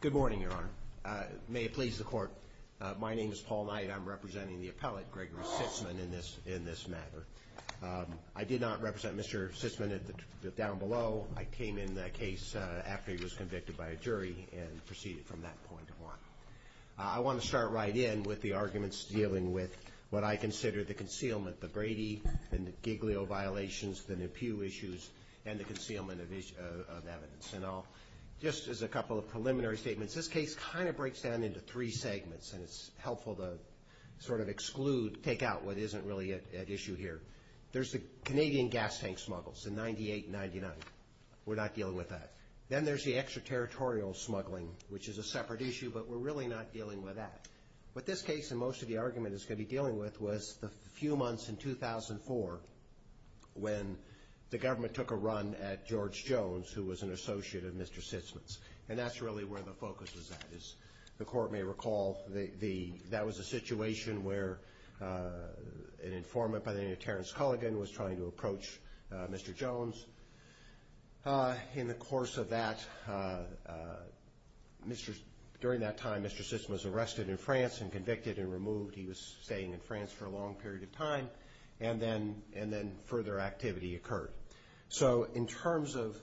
Good morning, Your Honor. May it please the Court, my name is Paul Knight. I'm representing the appellate, Gregory Sitzmann, in this matter. I did not represent Mr. Sitzmann down below. I came in the case after he was convicted by a jury and proceeded from that point on. I want to start right in with the arguments dealing with what I consider the concealment, the Brady and Giglio violations, the Nepu issues, and the concealment of evidence. And I'll, just as a couple of preliminary statements, this case kind of breaks down into three segments and it's helpful to sort of exclude, take out what isn't really at issue here. There's the Canadian gas tank smuggles in 98 and 99. We're not dealing with that. Then there's the extraterritorial smuggling, which is a separate issue, but we're really not dealing with that. But this case, and most of the argument it's going to be dealing with, was the few months in 2004 when the government took a run at George Jones, who was an associate of Mr. Sitzmann's. And that's really where the focus was at. As the Court may recall, that was a situation where an informant by the name of Terence Culligan was trying to approach Mr. Jones. In the course of that, during that time, Mr. Sitzmann was arrested in France and convicted and removed. He was staying in France for a long period of time and then further activity occurred. So in terms of,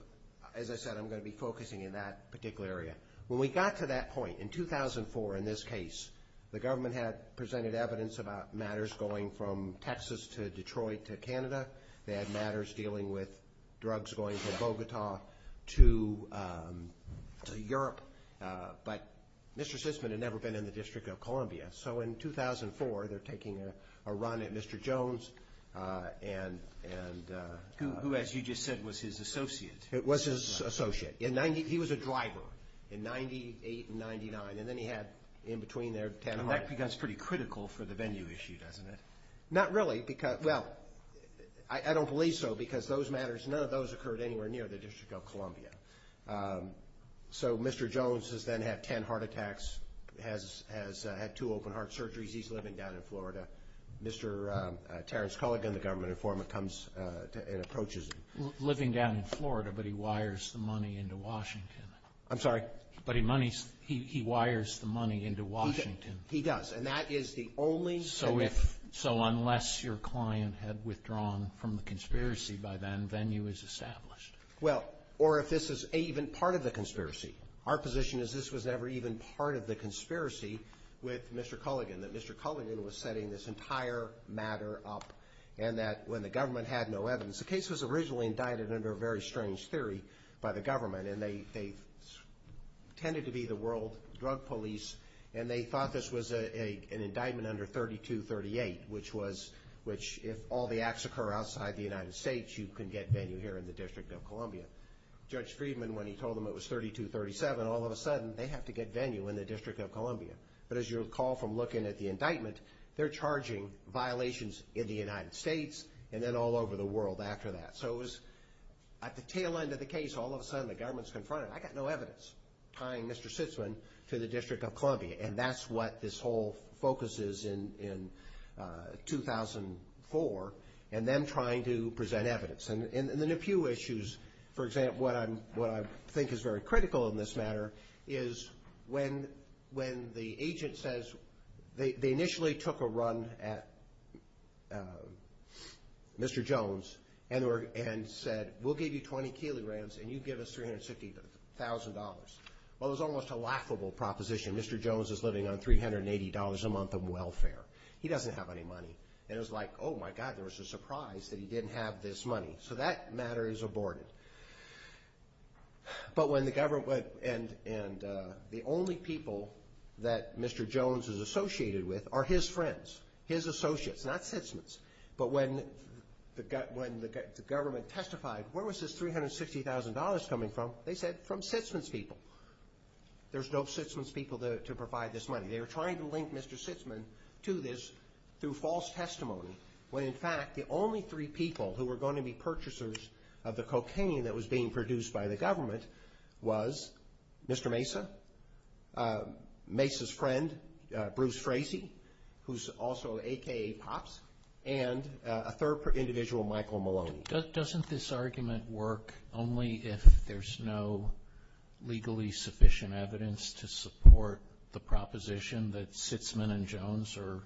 as I said, I'm going to be focusing in that particular area. When we got to that point, in 2004, in this case, the government had presented evidence about matters going from Texas to Detroit to Canada. They had matters dealing with drugs going from Bogota to Europe. But Mr. Sitzmann had never been in the District of Columbia. So in 2004, they're taking a run at Mr. Jones and... Who, as you just said, was his associate. It was his associate. He was a driver in 98 and 99. And then he had, in between there, 10 heart attacks. And that becomes pretty critical for the venue issue, doesn't it? Not really. Well, I don't believe so because those matters, none of those occurred anywhere near the District of Columbia. So Mr. Jones has then had 10 heart attacks, has had two open heart surgeries. He's living down in Florida. Mr. Terence Culligan, the government informant, comes and approaches him. Living down in Florida, but he wires the money into Washington. I'm sorry? But he monies, he wires the money into Washington. He does. And that is the only... So if, so unless your client had withdrawn from the conspiracy by then, venue is established. Well, or if this is even part of the conspiracy. Our position is this was never even part of the conspiracy with Mr. Culligan, that Mr. Culligan was setting this entire matter up and that when the government had no evidence, the case was originally indicted under a very strange theory by the government. And they tended to be the world drug police and they thought this was an indictment under 3238, which was, which if all the acts occur outside the United States, you can get venue here in the District of Columbia. Judge Friedman, when he told them it was 3237, all of a sudden they have to get venue in the District of Columbia. But as you recall from looking at the indictment, they're charging violations in the United States and then all over the world after that. So it was at the tail end of the case, all of a sudden the government's confronted. I got no evidence tying Mr. Sitzman to the District of Columbia. And that's what this whole focus is in 2004 and them trying to present evidence. And then a few issues, for example, what I'm, what I think is very critical in this matter is when the agent says, they initially took a run at Mr. Jones and said, we'll give you 20 kilograms and you give us $350,000. Well, it was almost a laughable proposition. Mr. Jones is living on $380 a month of welfare. He doesn't have any money. And it was like, oh my God, there was a surprise that he didn't have this money. So that matter is aborted. But when the government, and the only people that Mr. Jones is associated with are his friends, his associates, not Sitzman's. But when the government testified, where was this $360,000 coming from? They said from Sitzman's people. There's no Sitzman's people to provide this money. They were trying to link Mr. Sitzman to this through false testimony. When in fact the only three people who were going to be purchasers of the cocaine that was being produced by the government was Mr. Mesa, Mesa's friend, Bruce Frazee, who's also AKA Pops, and a third individual, Michael Maloney. Doesn't this argument work only if there's no legally sufficient evidence to support the proposition that Sitzman and Jones are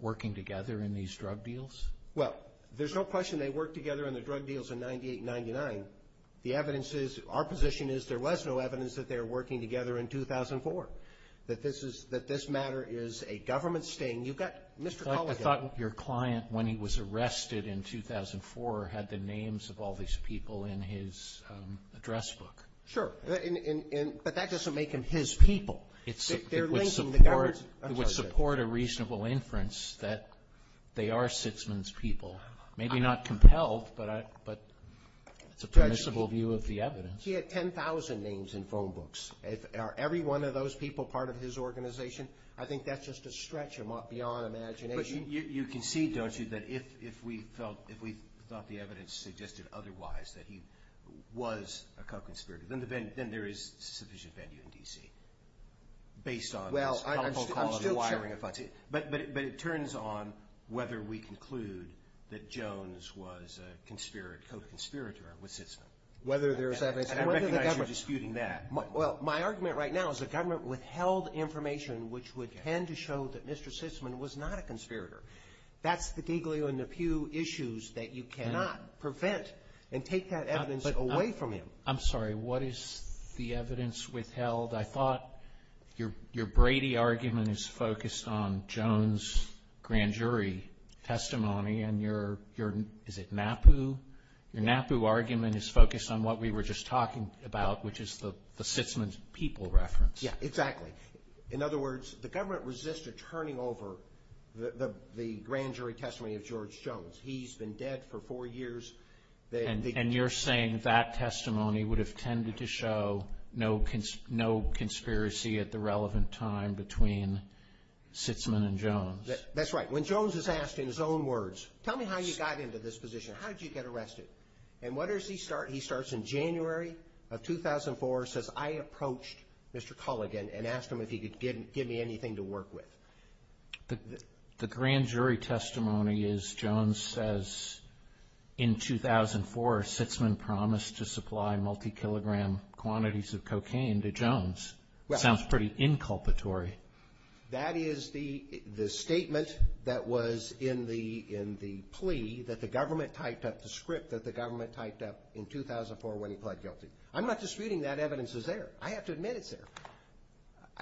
working together in these drug deals? Well, there's no question they worked together in the drug deals in 98-99. The evidence is, our position is, there was no evidence that they were working together in 2004. That this is, that this matter is a government sting. You've got Mr. Colligan. But I thought your client, when he was arrested in 2004, had the names of all these people in his address book. Sure. But that doesn't make them his people. Maybe not compelled, but it's a permissible view of the evidence. He had 10,000 names in phone books. Are every one of those people part of his organization? I think that's just a stretch beyond imagination. You concede, don't you, that if we felt, if we thought the evidence suggested otherwise that he was a co-conspirator, then there is sufficient venue in D.C. based on his helpful quality wiring of funds. But it turns on whether we conclude that Jones was a co-conspirator with Sitzman. Whether there's evidence. I recognize you're disputing that. Well, my argument right now is the government withheld information which would tend to show that Mr. Sitzman was not a conspirator. That's the Giglio and the Pew issues that you cannot prevent and take that evidence away from him. I'm sorry, what is the evidence withheld? I thought your Brady argument is focused on Jones' grand jury testimony and your, is it NAPU? Your NAPU argument is focused on what we were just talking about, which is the Sitzman's people reference. Yeah, exactly. In other words, the government resisted turning over the grand jury testimony of George Jones. He's been dead for four years. And you're saying that testimony would have tended to show no conspiracy at the relevant time between Sitzman and Jones? That's right. When Jones is asked in his own words, tell me how you got into this position. How did you get arrested? And what does he start? He starts in January of 2004, says, I approached Mr. Culligan and asked him if he could give me anything to work with. The grand jury testimony is Jones says, in 2004, Sitzman promised to supply multi-kilogram quantities of cocaine to Jones. Sounds pretty inculpatory. That is the statement that was in the plea that the government typed up, the script that the government typed up in 2004 when he pled guilty. I'm not disputing that evidence is there.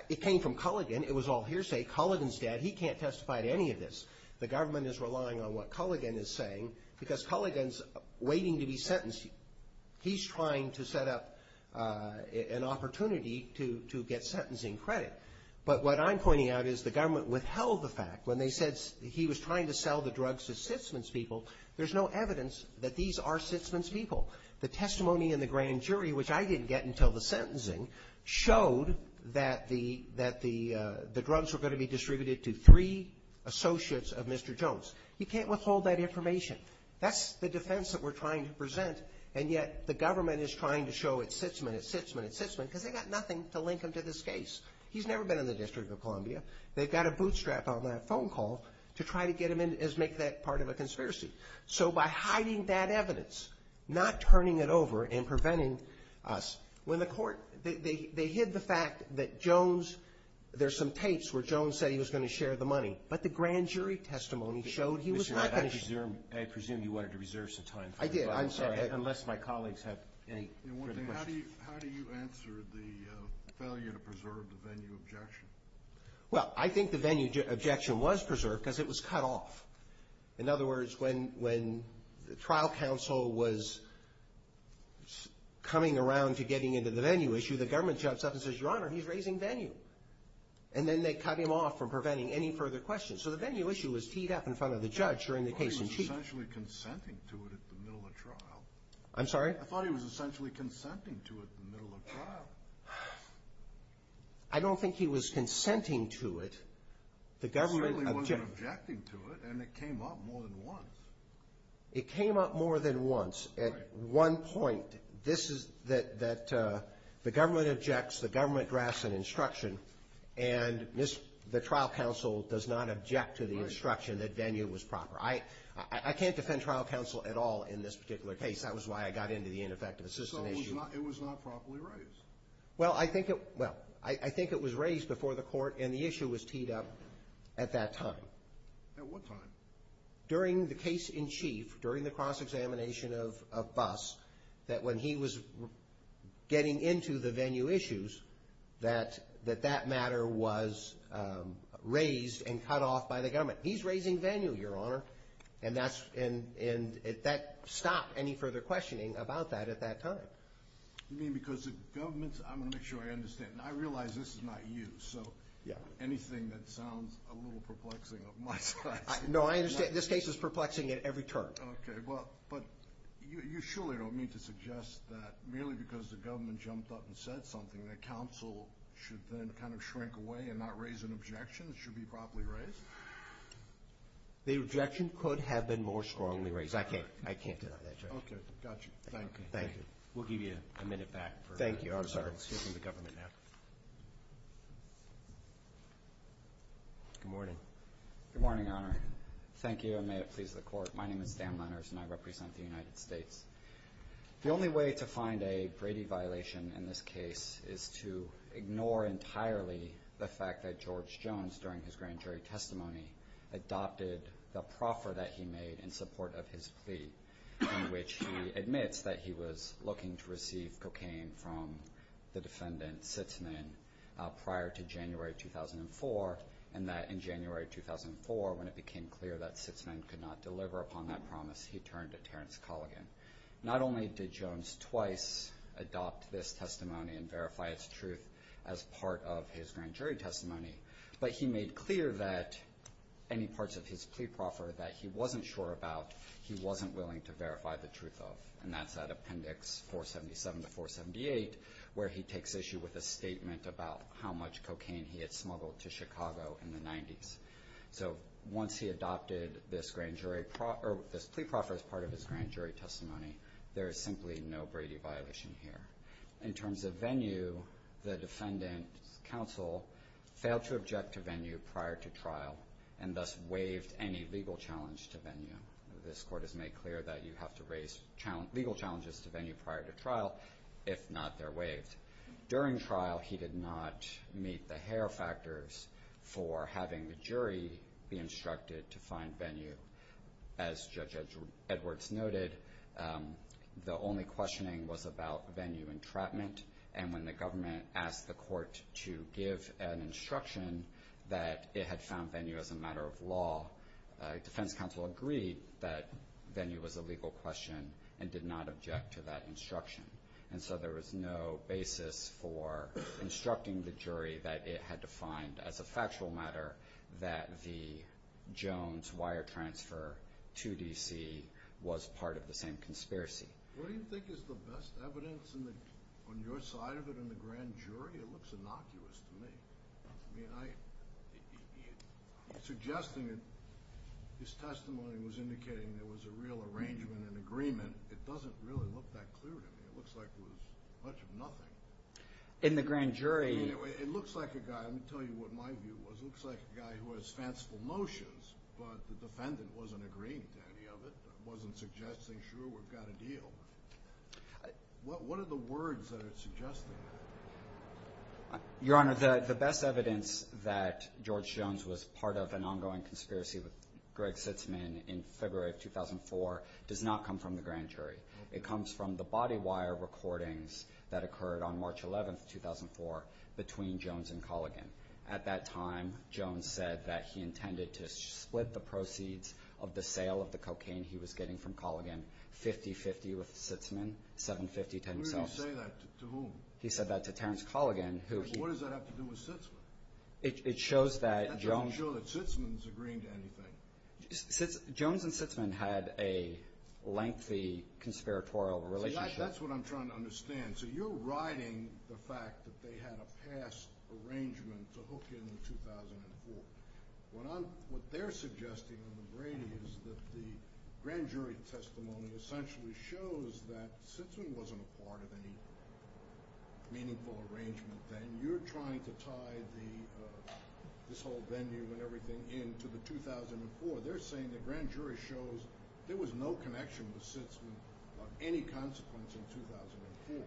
It came from Culligan. It was all hearsay. Culligan's dead. He can't testify to any of this. The government is relying on what Culligan is saying because Culligan's waiting to be sentenced. He's trying to set up an opportunity to get sentencing credit. But what I'm pointing out is the government withheld the fact when they said he was trying to sell the drugs to Sitzman's people. There's no evidence that these are Sitzman's people. The testimony in the grand jury, which I didn't get until the sentencing, showed that the drugs were going to be distributed to three associates of Mr. Jones. You can't withhold that information. That's the defense that we're trying to present, and yet the government is trying to show it's Sitzman, it's Sitzman, it's Sitzman because they've got nothing to link him to this case. He's never been in the District of Columbia. They've got a bootstrap on that phone call to try to get him in as make that part of a conspiracy. So by hiding that evidence, not turning it over and preventing us, when the court, they hid the fact that Jones, there's some tapes where Jones said he was going to share the money, but the grand jury testimony showed he was not going to share it. I presume you wanted to reserve some time for this. I did, I'm sorry, unless my colleagues have any further questions. How do you answer the failure to preserve the venue objection? Well, I think the venue objection was preserved because it was cut off. In other words, when the trial counsel was coming around to getting into the venue issue, the government jumps up and says, Your Honor, he's raising venue. And then they cut him off from preventing any further questions. So the venue issue was teed up in front of the judge during the case in chief. I thought he was essentially consenting to it at the middle of the trial. I'm sorry? Well, I don't think he was consenting to it. He certainly wasn't objecting to it, and it came up more than once. It came up more than once. At one point, this is that the government objects, the government drafts an instruction, and the trial counsel does not object to the instruction that venue was proper. I can't defend trial counsel at all in this particular case. That was why I got into the ineffective assistant issue. It was not properly raised. Well, I think it was raised before the court, and the issue was teed up at that time. At what time? During the case in chief, during the cross-examination of Buss, that when he was getting into the venue issues, that that matter was raised and cut off by the government. He's raising any further questioning about that at that time. You mean because the government's... I'm going to make sure I understand. I realize this is not you, so anything that sounds a little perplexing of my size... No, I understand. This case is perplexing at every turn. Okay, well, but you surely don't mean to suggest that merely because the government jumped up and said something that counsel should then kind of shrink away and not raise an objection that should be properly raised? The objection could have been more strongly raised. I can't deny that, Judge. Okay, gotcha. Thank you. Thank you. We'll give you a minute back. Thank you. I'm sorry. Excuse me. The government now. Good morning. Good morning, Your Honor. Thank you, and may it please the court. My name is Dan Lenners, and I represent the United States. The only way to find a Brady violation in this case is to ignore entirely the fact that George Jones, during his grand jury testimony, adopted the proffer that he made in support of his plea, in which he admits that he was looking to receive cocaine from the defendant, Sitzman, prior to January 2004, and that in January 2004, when it became clear that Sitzman could not deliver upon that promise, he turned to Terrence Colligan. Not only did Jones twice adopt this testimony and verify its truth as part of his grand jury testimony, but he made clear that any parts of his plea proffer that he wasn't sure about, he wasn't willing to verify the truth of, and that's at Appendix 477 to 478, where he takes issue with a statement about how much cocaine he had smuggled to Chicago in the 90s. So once he adopted this plea proffer as part of his grand jury testimony, there is simply no Brady violation here. In terms of venue, the defendant's counsel failed to object to venue prior to trial, and thus waived any legal challenge to venue. This court has made clear that you have to raise legal challenges to venue prior to trial if not they're waived. During trial, he did not meet the hair factors for having the jury be instructed to find venue. As Judge Edwards noted, the only questioning was about venue entrapment, and when the government asked the court to give an instruction that it had found venue as a matter of law, defense counsel agreed that venue was a legal question and did not object to that instruction. And so there was no basis for instructing the jury that it had to find, as a factual matter, that the Jones wire transfer to D.C. was part of the same conspiracy. What do you think is the best evidence on your side of it in the grand jury? It looks innocuous to me. I mean, suggesting it, his testimony was indicating there was a real arrangement and agreement. It doesn't really look that clear to me. It looks like it was much of nothing. In the grand jury... It looks like a guy, let me tell you what my view was, it looks like a guy who has fanciful notions, but the defendant wasn't agreeing to any of it, wasn't suggesting, sure, we've got a deal. What are the words that are suggesting that? Your Honor, the best evidence that George Jones was part of an ongoing conspiracy with Greg Sitzman in February of 2004 does not come from the grand jury. It comes from the body wire recordings that occurred on March 11, 2004, between Jones and Colligan. At that time, Jones said that he intended to split the proceeds of the sale of the cocaine he was getting from Colligan 50-50 with Sitzman, 7-50 to himself. Who did he say that to? To whom? He said that to Terence Colligan, who... What does that have to do with Sitzman? It shows that Jones... That doesn't show that Sitzman's agreeing to anything. Jones and Sitzman had a lengthy conspiratorial relationship. See, that's what I'm trying to understand. So you're riding the fact that they had a past arrangement to hook in in 2004. What they're suggesting on the brain is that the grand jury testimony essentially shows that Sitzman wasn't a part of any meaningful arrangement then. When you're trying to tie this whole venue and everything in to the 2004, they're saying the grand jury shows there was no connection with Sitzman on any consequence in 2004.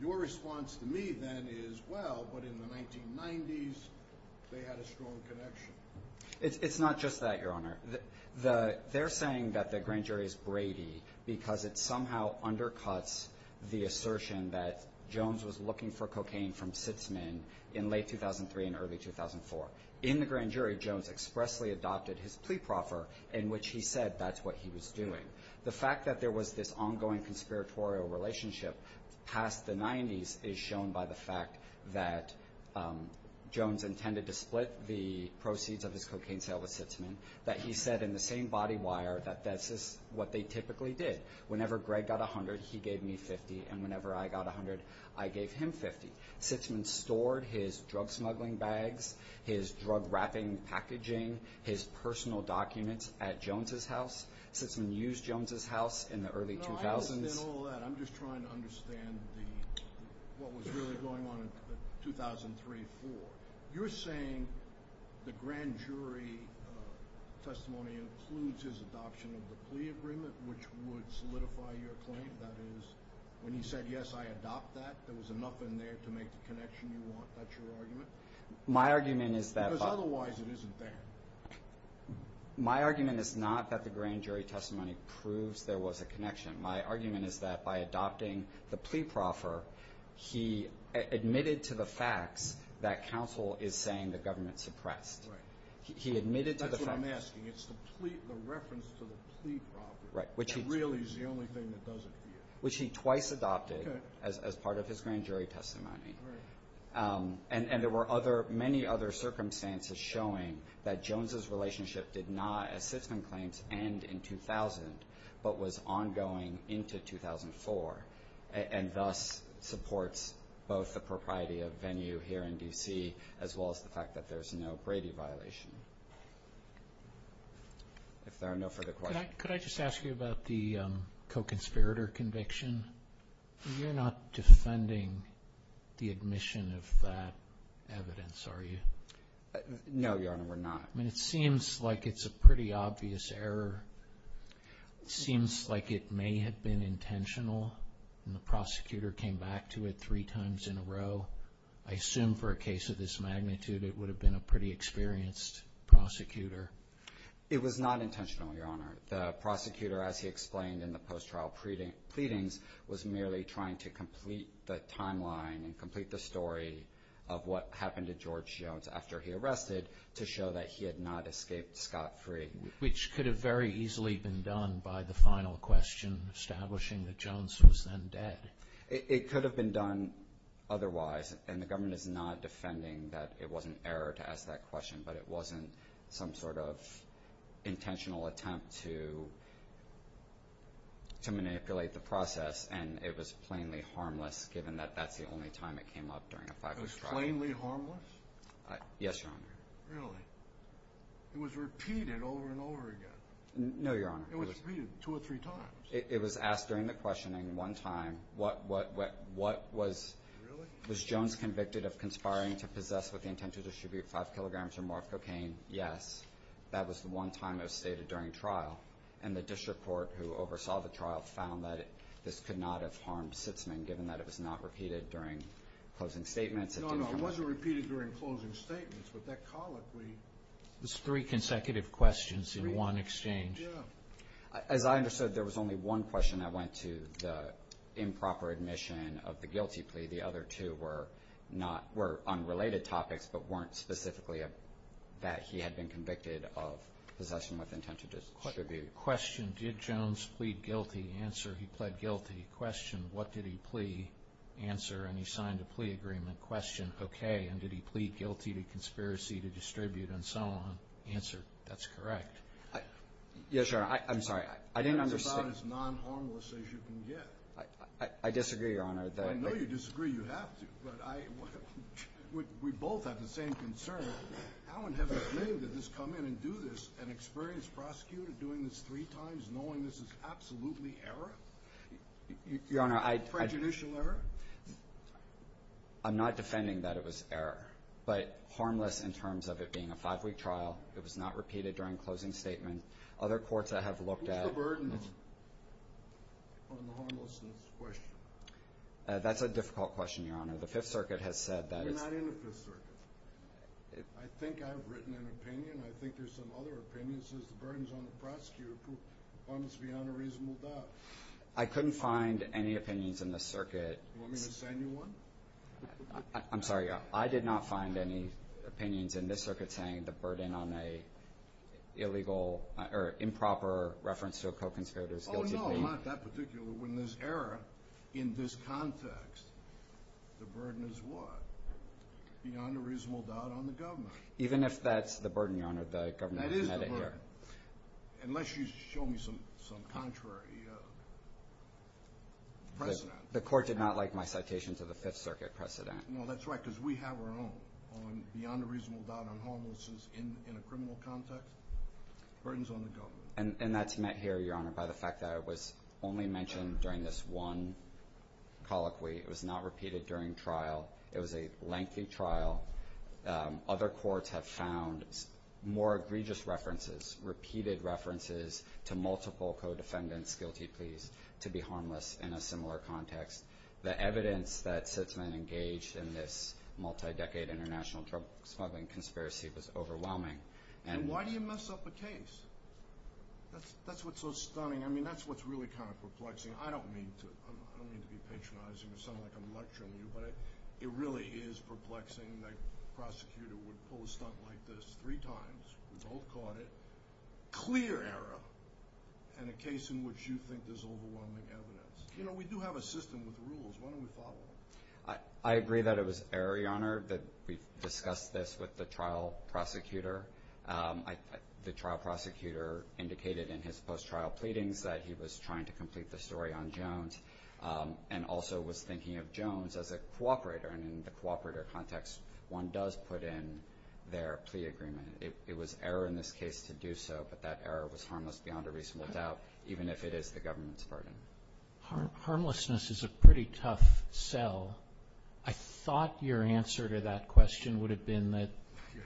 Your response to me then is, well, but in the 1990s, they had a strong connection. It's not just that, Your Honor. They're saying that the grand jury is Brady because it somehow undercuts the assertion that Jones was looking for cocaine from Sitzman in late 2003 and early 2004. In the grand jury, Jones expressly adopted his plea proffer in which he said that's what he was doing. The fact that there was this ongoing conspiratorial relationship past the 90s is shown by the fact that Jones intended to split the proceeds of his cocaine sale with Sitzman, that he said in the same body wire that that's just what they typically did. Whenever Greg got $100, he gave me $50, and whenever I got $100, I gave him $50. Sitzman stored his drug smuggling bags, his drug wrapping packaging, his personal documents at Jones' house. Sitzman used Jones' house in the early 2000s. I understand all that. I'm just trying to understand what was really going on in 2003-4. You're saying the grand jury testimony includes his adoption of the plea agreement, which would solidify your claim. That is, when he said, yes, I adopt that, there was enough in there to make the connection you want. That's your argument? My argument is that... Because otherwise it isn't there. My argument is not that the grand jury testimony proves there was a connection. My argument is that by adopting the plea proffer, he admitted to the facts that counsel is saying the government suppressed. Right. He admitted to the facts. That's what I'm asking. It's the reference to the plea proffer. Right. Which really is the only thing that doesn't appear. Which he twice adopted as part of his grand jury testimony. Right. And there were many other circumstances showing that Jones' relationship did not, as Sitzman claims, end in 2000, but was ongoing into 2004, and thus supports both the propriety of venue here in D.C., as well as the fact that there's no Brady violation. If there are no further questions... Could I just ask you about the co-conspirator conviction? You're not defending the admission of that evidence, are you? No, Your Honor, we're not. It seems like it's a pretty obvious error. It seems like it may have been intentional, and the prosecutor came back to it three times in a row. I assume for a case of this magnitude, it would have been a pretty experienced prosecutor. It was not intentional, Your Honor. The prosecutor, as he explained in the post-trial pleadings, was merely trying to complete the timeline and complete the story of what happened to George Jones after he arrested to show that he had not escaped scot-free. Which could have very easily been done by the final question, establishing that Jones was then dead. It could have been done otherwise, and the government is not defending that it was an error to ask that question, but it wasn't some sort of intentional attempt to manipulate the process, and it was plainly harmless, given that that's the only time it came up during a five-week trial. It was plainly harmless? Yes, Your Honor. Really? It was repeated over and over again? No, Your Honor. It was repeated two or three times? It was asked during the questioning one time, was Jones convicted of conspiring to possess with the intent to distribute five kilograms or more of cocaine? Yes. That was the one time that was stated during trial, and the district court who oversaw the trial found that this could not have harmed Sitzman, given that it was not repeated during closing statements. No, no, it wasn't repeated during closing statements, but that colloquy... It was three consecutive questions in one exchange? Yes. As I understood, there was only one question that went to the improper admission of the guilty plea. The other two were unrelated topics, but weren't specifically that he had been convicted of possession with intent to distribute. Question, did Jones plead guilty? Answer, he pled guilty. Question, what did he plea? Answer, and he signed a plea agreement. Question, okay, and did he plead guilty to conspiracy to distribute and so on? Answer, that's correct. Yes, Your Honor, I'm sorry. I didn't understand. That's about as non-harmless as you can get. I disagree, Your Honor. I know you disagree, you have to, but we both have the same concern. How in heaven's name did this come in and do this, an experienced prosecutor doing this three times, knowing this is absolutely error? Your Honor, I... Prejudicial error? I'm not defending that it was error, but harmless in terms of it being a five-week trial. It was not repeated during closing statement. Other courts I have looked at... Who's the burden on the harmlessness question? That's a difficult question, Your Honor. The Fifth Circuit has said that it's... We're not in the Fifth Circuit. I think I've written an opinion. I think there's some other opinion that says the burden's on the prosecutor. Why must we have no reasonable doubt? I couldn't find any opinions in the circuit. You want me to send you one? I'm sorry. I did not find any opinions in this circuit saying the burden on a illegal... or improper reference to a co-conspirator's guilty plea. Oh, no, not that particular one. There's error in this context. The burden is what? Beyond a reasonable doubt on the government. Even if that's the burden, Your Honor, the government can edit here. Unless you show me some contrary precedent. The court did not like my citation to the Fifth Circuit. That's right, because we have our own on beyond a reasonable doubt on harmlessness in a criminal context. Burden's on the government. And that's met here, Your Honor, by the fact that it was only mentioned during this one colloquy. It was not repeated during trial. It was a lengthy trial. Other courts have found more egregious references, repeated references, to multiple co-defendants' guilty pleas to be harmless in a similar context. The evidence that Sitzman engaged in this multi-decade international drug smuggling conspiracy was overwhelming. And why do you mess up a case? That's what's so stunning. I mean, that's what's really kind of perplexing. I don't mean to be patronizing or sound like I'm lecturing you, but it really is perplexing that a prosecutor would pull a stunt like this three times. We both caught it. Clear error in a case in which you think there's overwhelming evidence. You know, we do have a system with rules. Why don't we follow it? I agree that it was error, Your Honor, that we discussed this with the trial prosecutor. The trial prosecutor indicated in his post-trial pleadings that he was trying to complete the story on Jones and also was thinking of Jones as a cooperator. And in the cooperator context, one does put in their plea agreement. It was error in this case to do so, but that error was harmless beyond a reasonable doubt even if it is the government's burden. Harmlessness is a pretty tough sell. I thought your answer to that question would have been that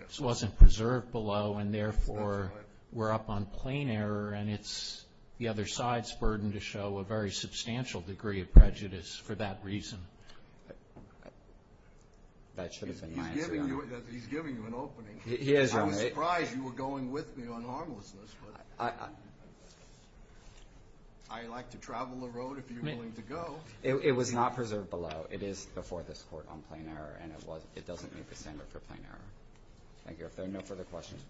this wasn't preserved below and therefore we're up on plain error and it's the other side's burden to show a very substantial degree of prejudice for that reason. That should have been my answer, Your Honor. He's giving you an opening. I was surprised you were going with me on harmlessness. I like to travel the road if you're willing to go. It was not preserved below. It is before this Court on plain error and it doesn't meet the standard for plain error. Thank you. If there are no further questions.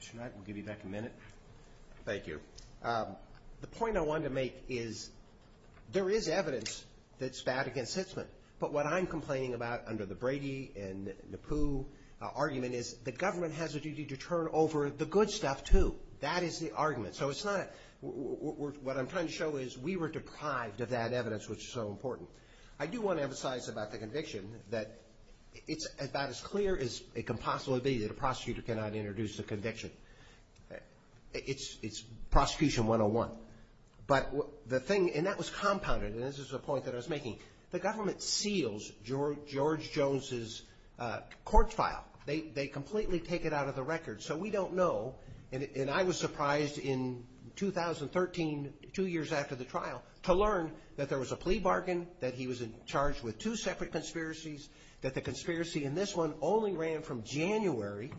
Mr. Knight, we'll give you back a minute. Thank you. The point I wanted to make is there is evidence that's bad against Sitzman, but what I'm complaining about under the Brady and the Pooh argument is the government has a duty to turn over the good stuff too. That is the argument. What I'm trying to show is we were deprived of that evidence which is so important. I do want to emphasize about the conviction that it's about as clear as it can possibly be that a prosecutor cannot introduce a conviction. It's prosecution 101. That was the government seals George Jones' court file. They completely take it out of the record. So we don't know and I was surprised in 2013, two years after the trial, to learn that there was a plea bargain, that he was charged with two separate conspiracies, that the conspiracy in this one only ran from January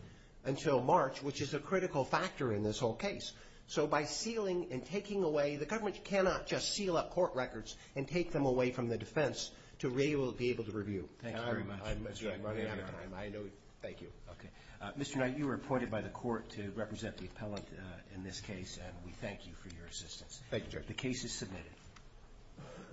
until March which is a critical factor in this whole case. So by sealing and taking away, the government cannot just seal up the defense to be able to review. Thank you very much. Thank you. Mr. Knight, you were appointed by the court to represent the appellant in this case and we thank you for your assistance. The case is submitted.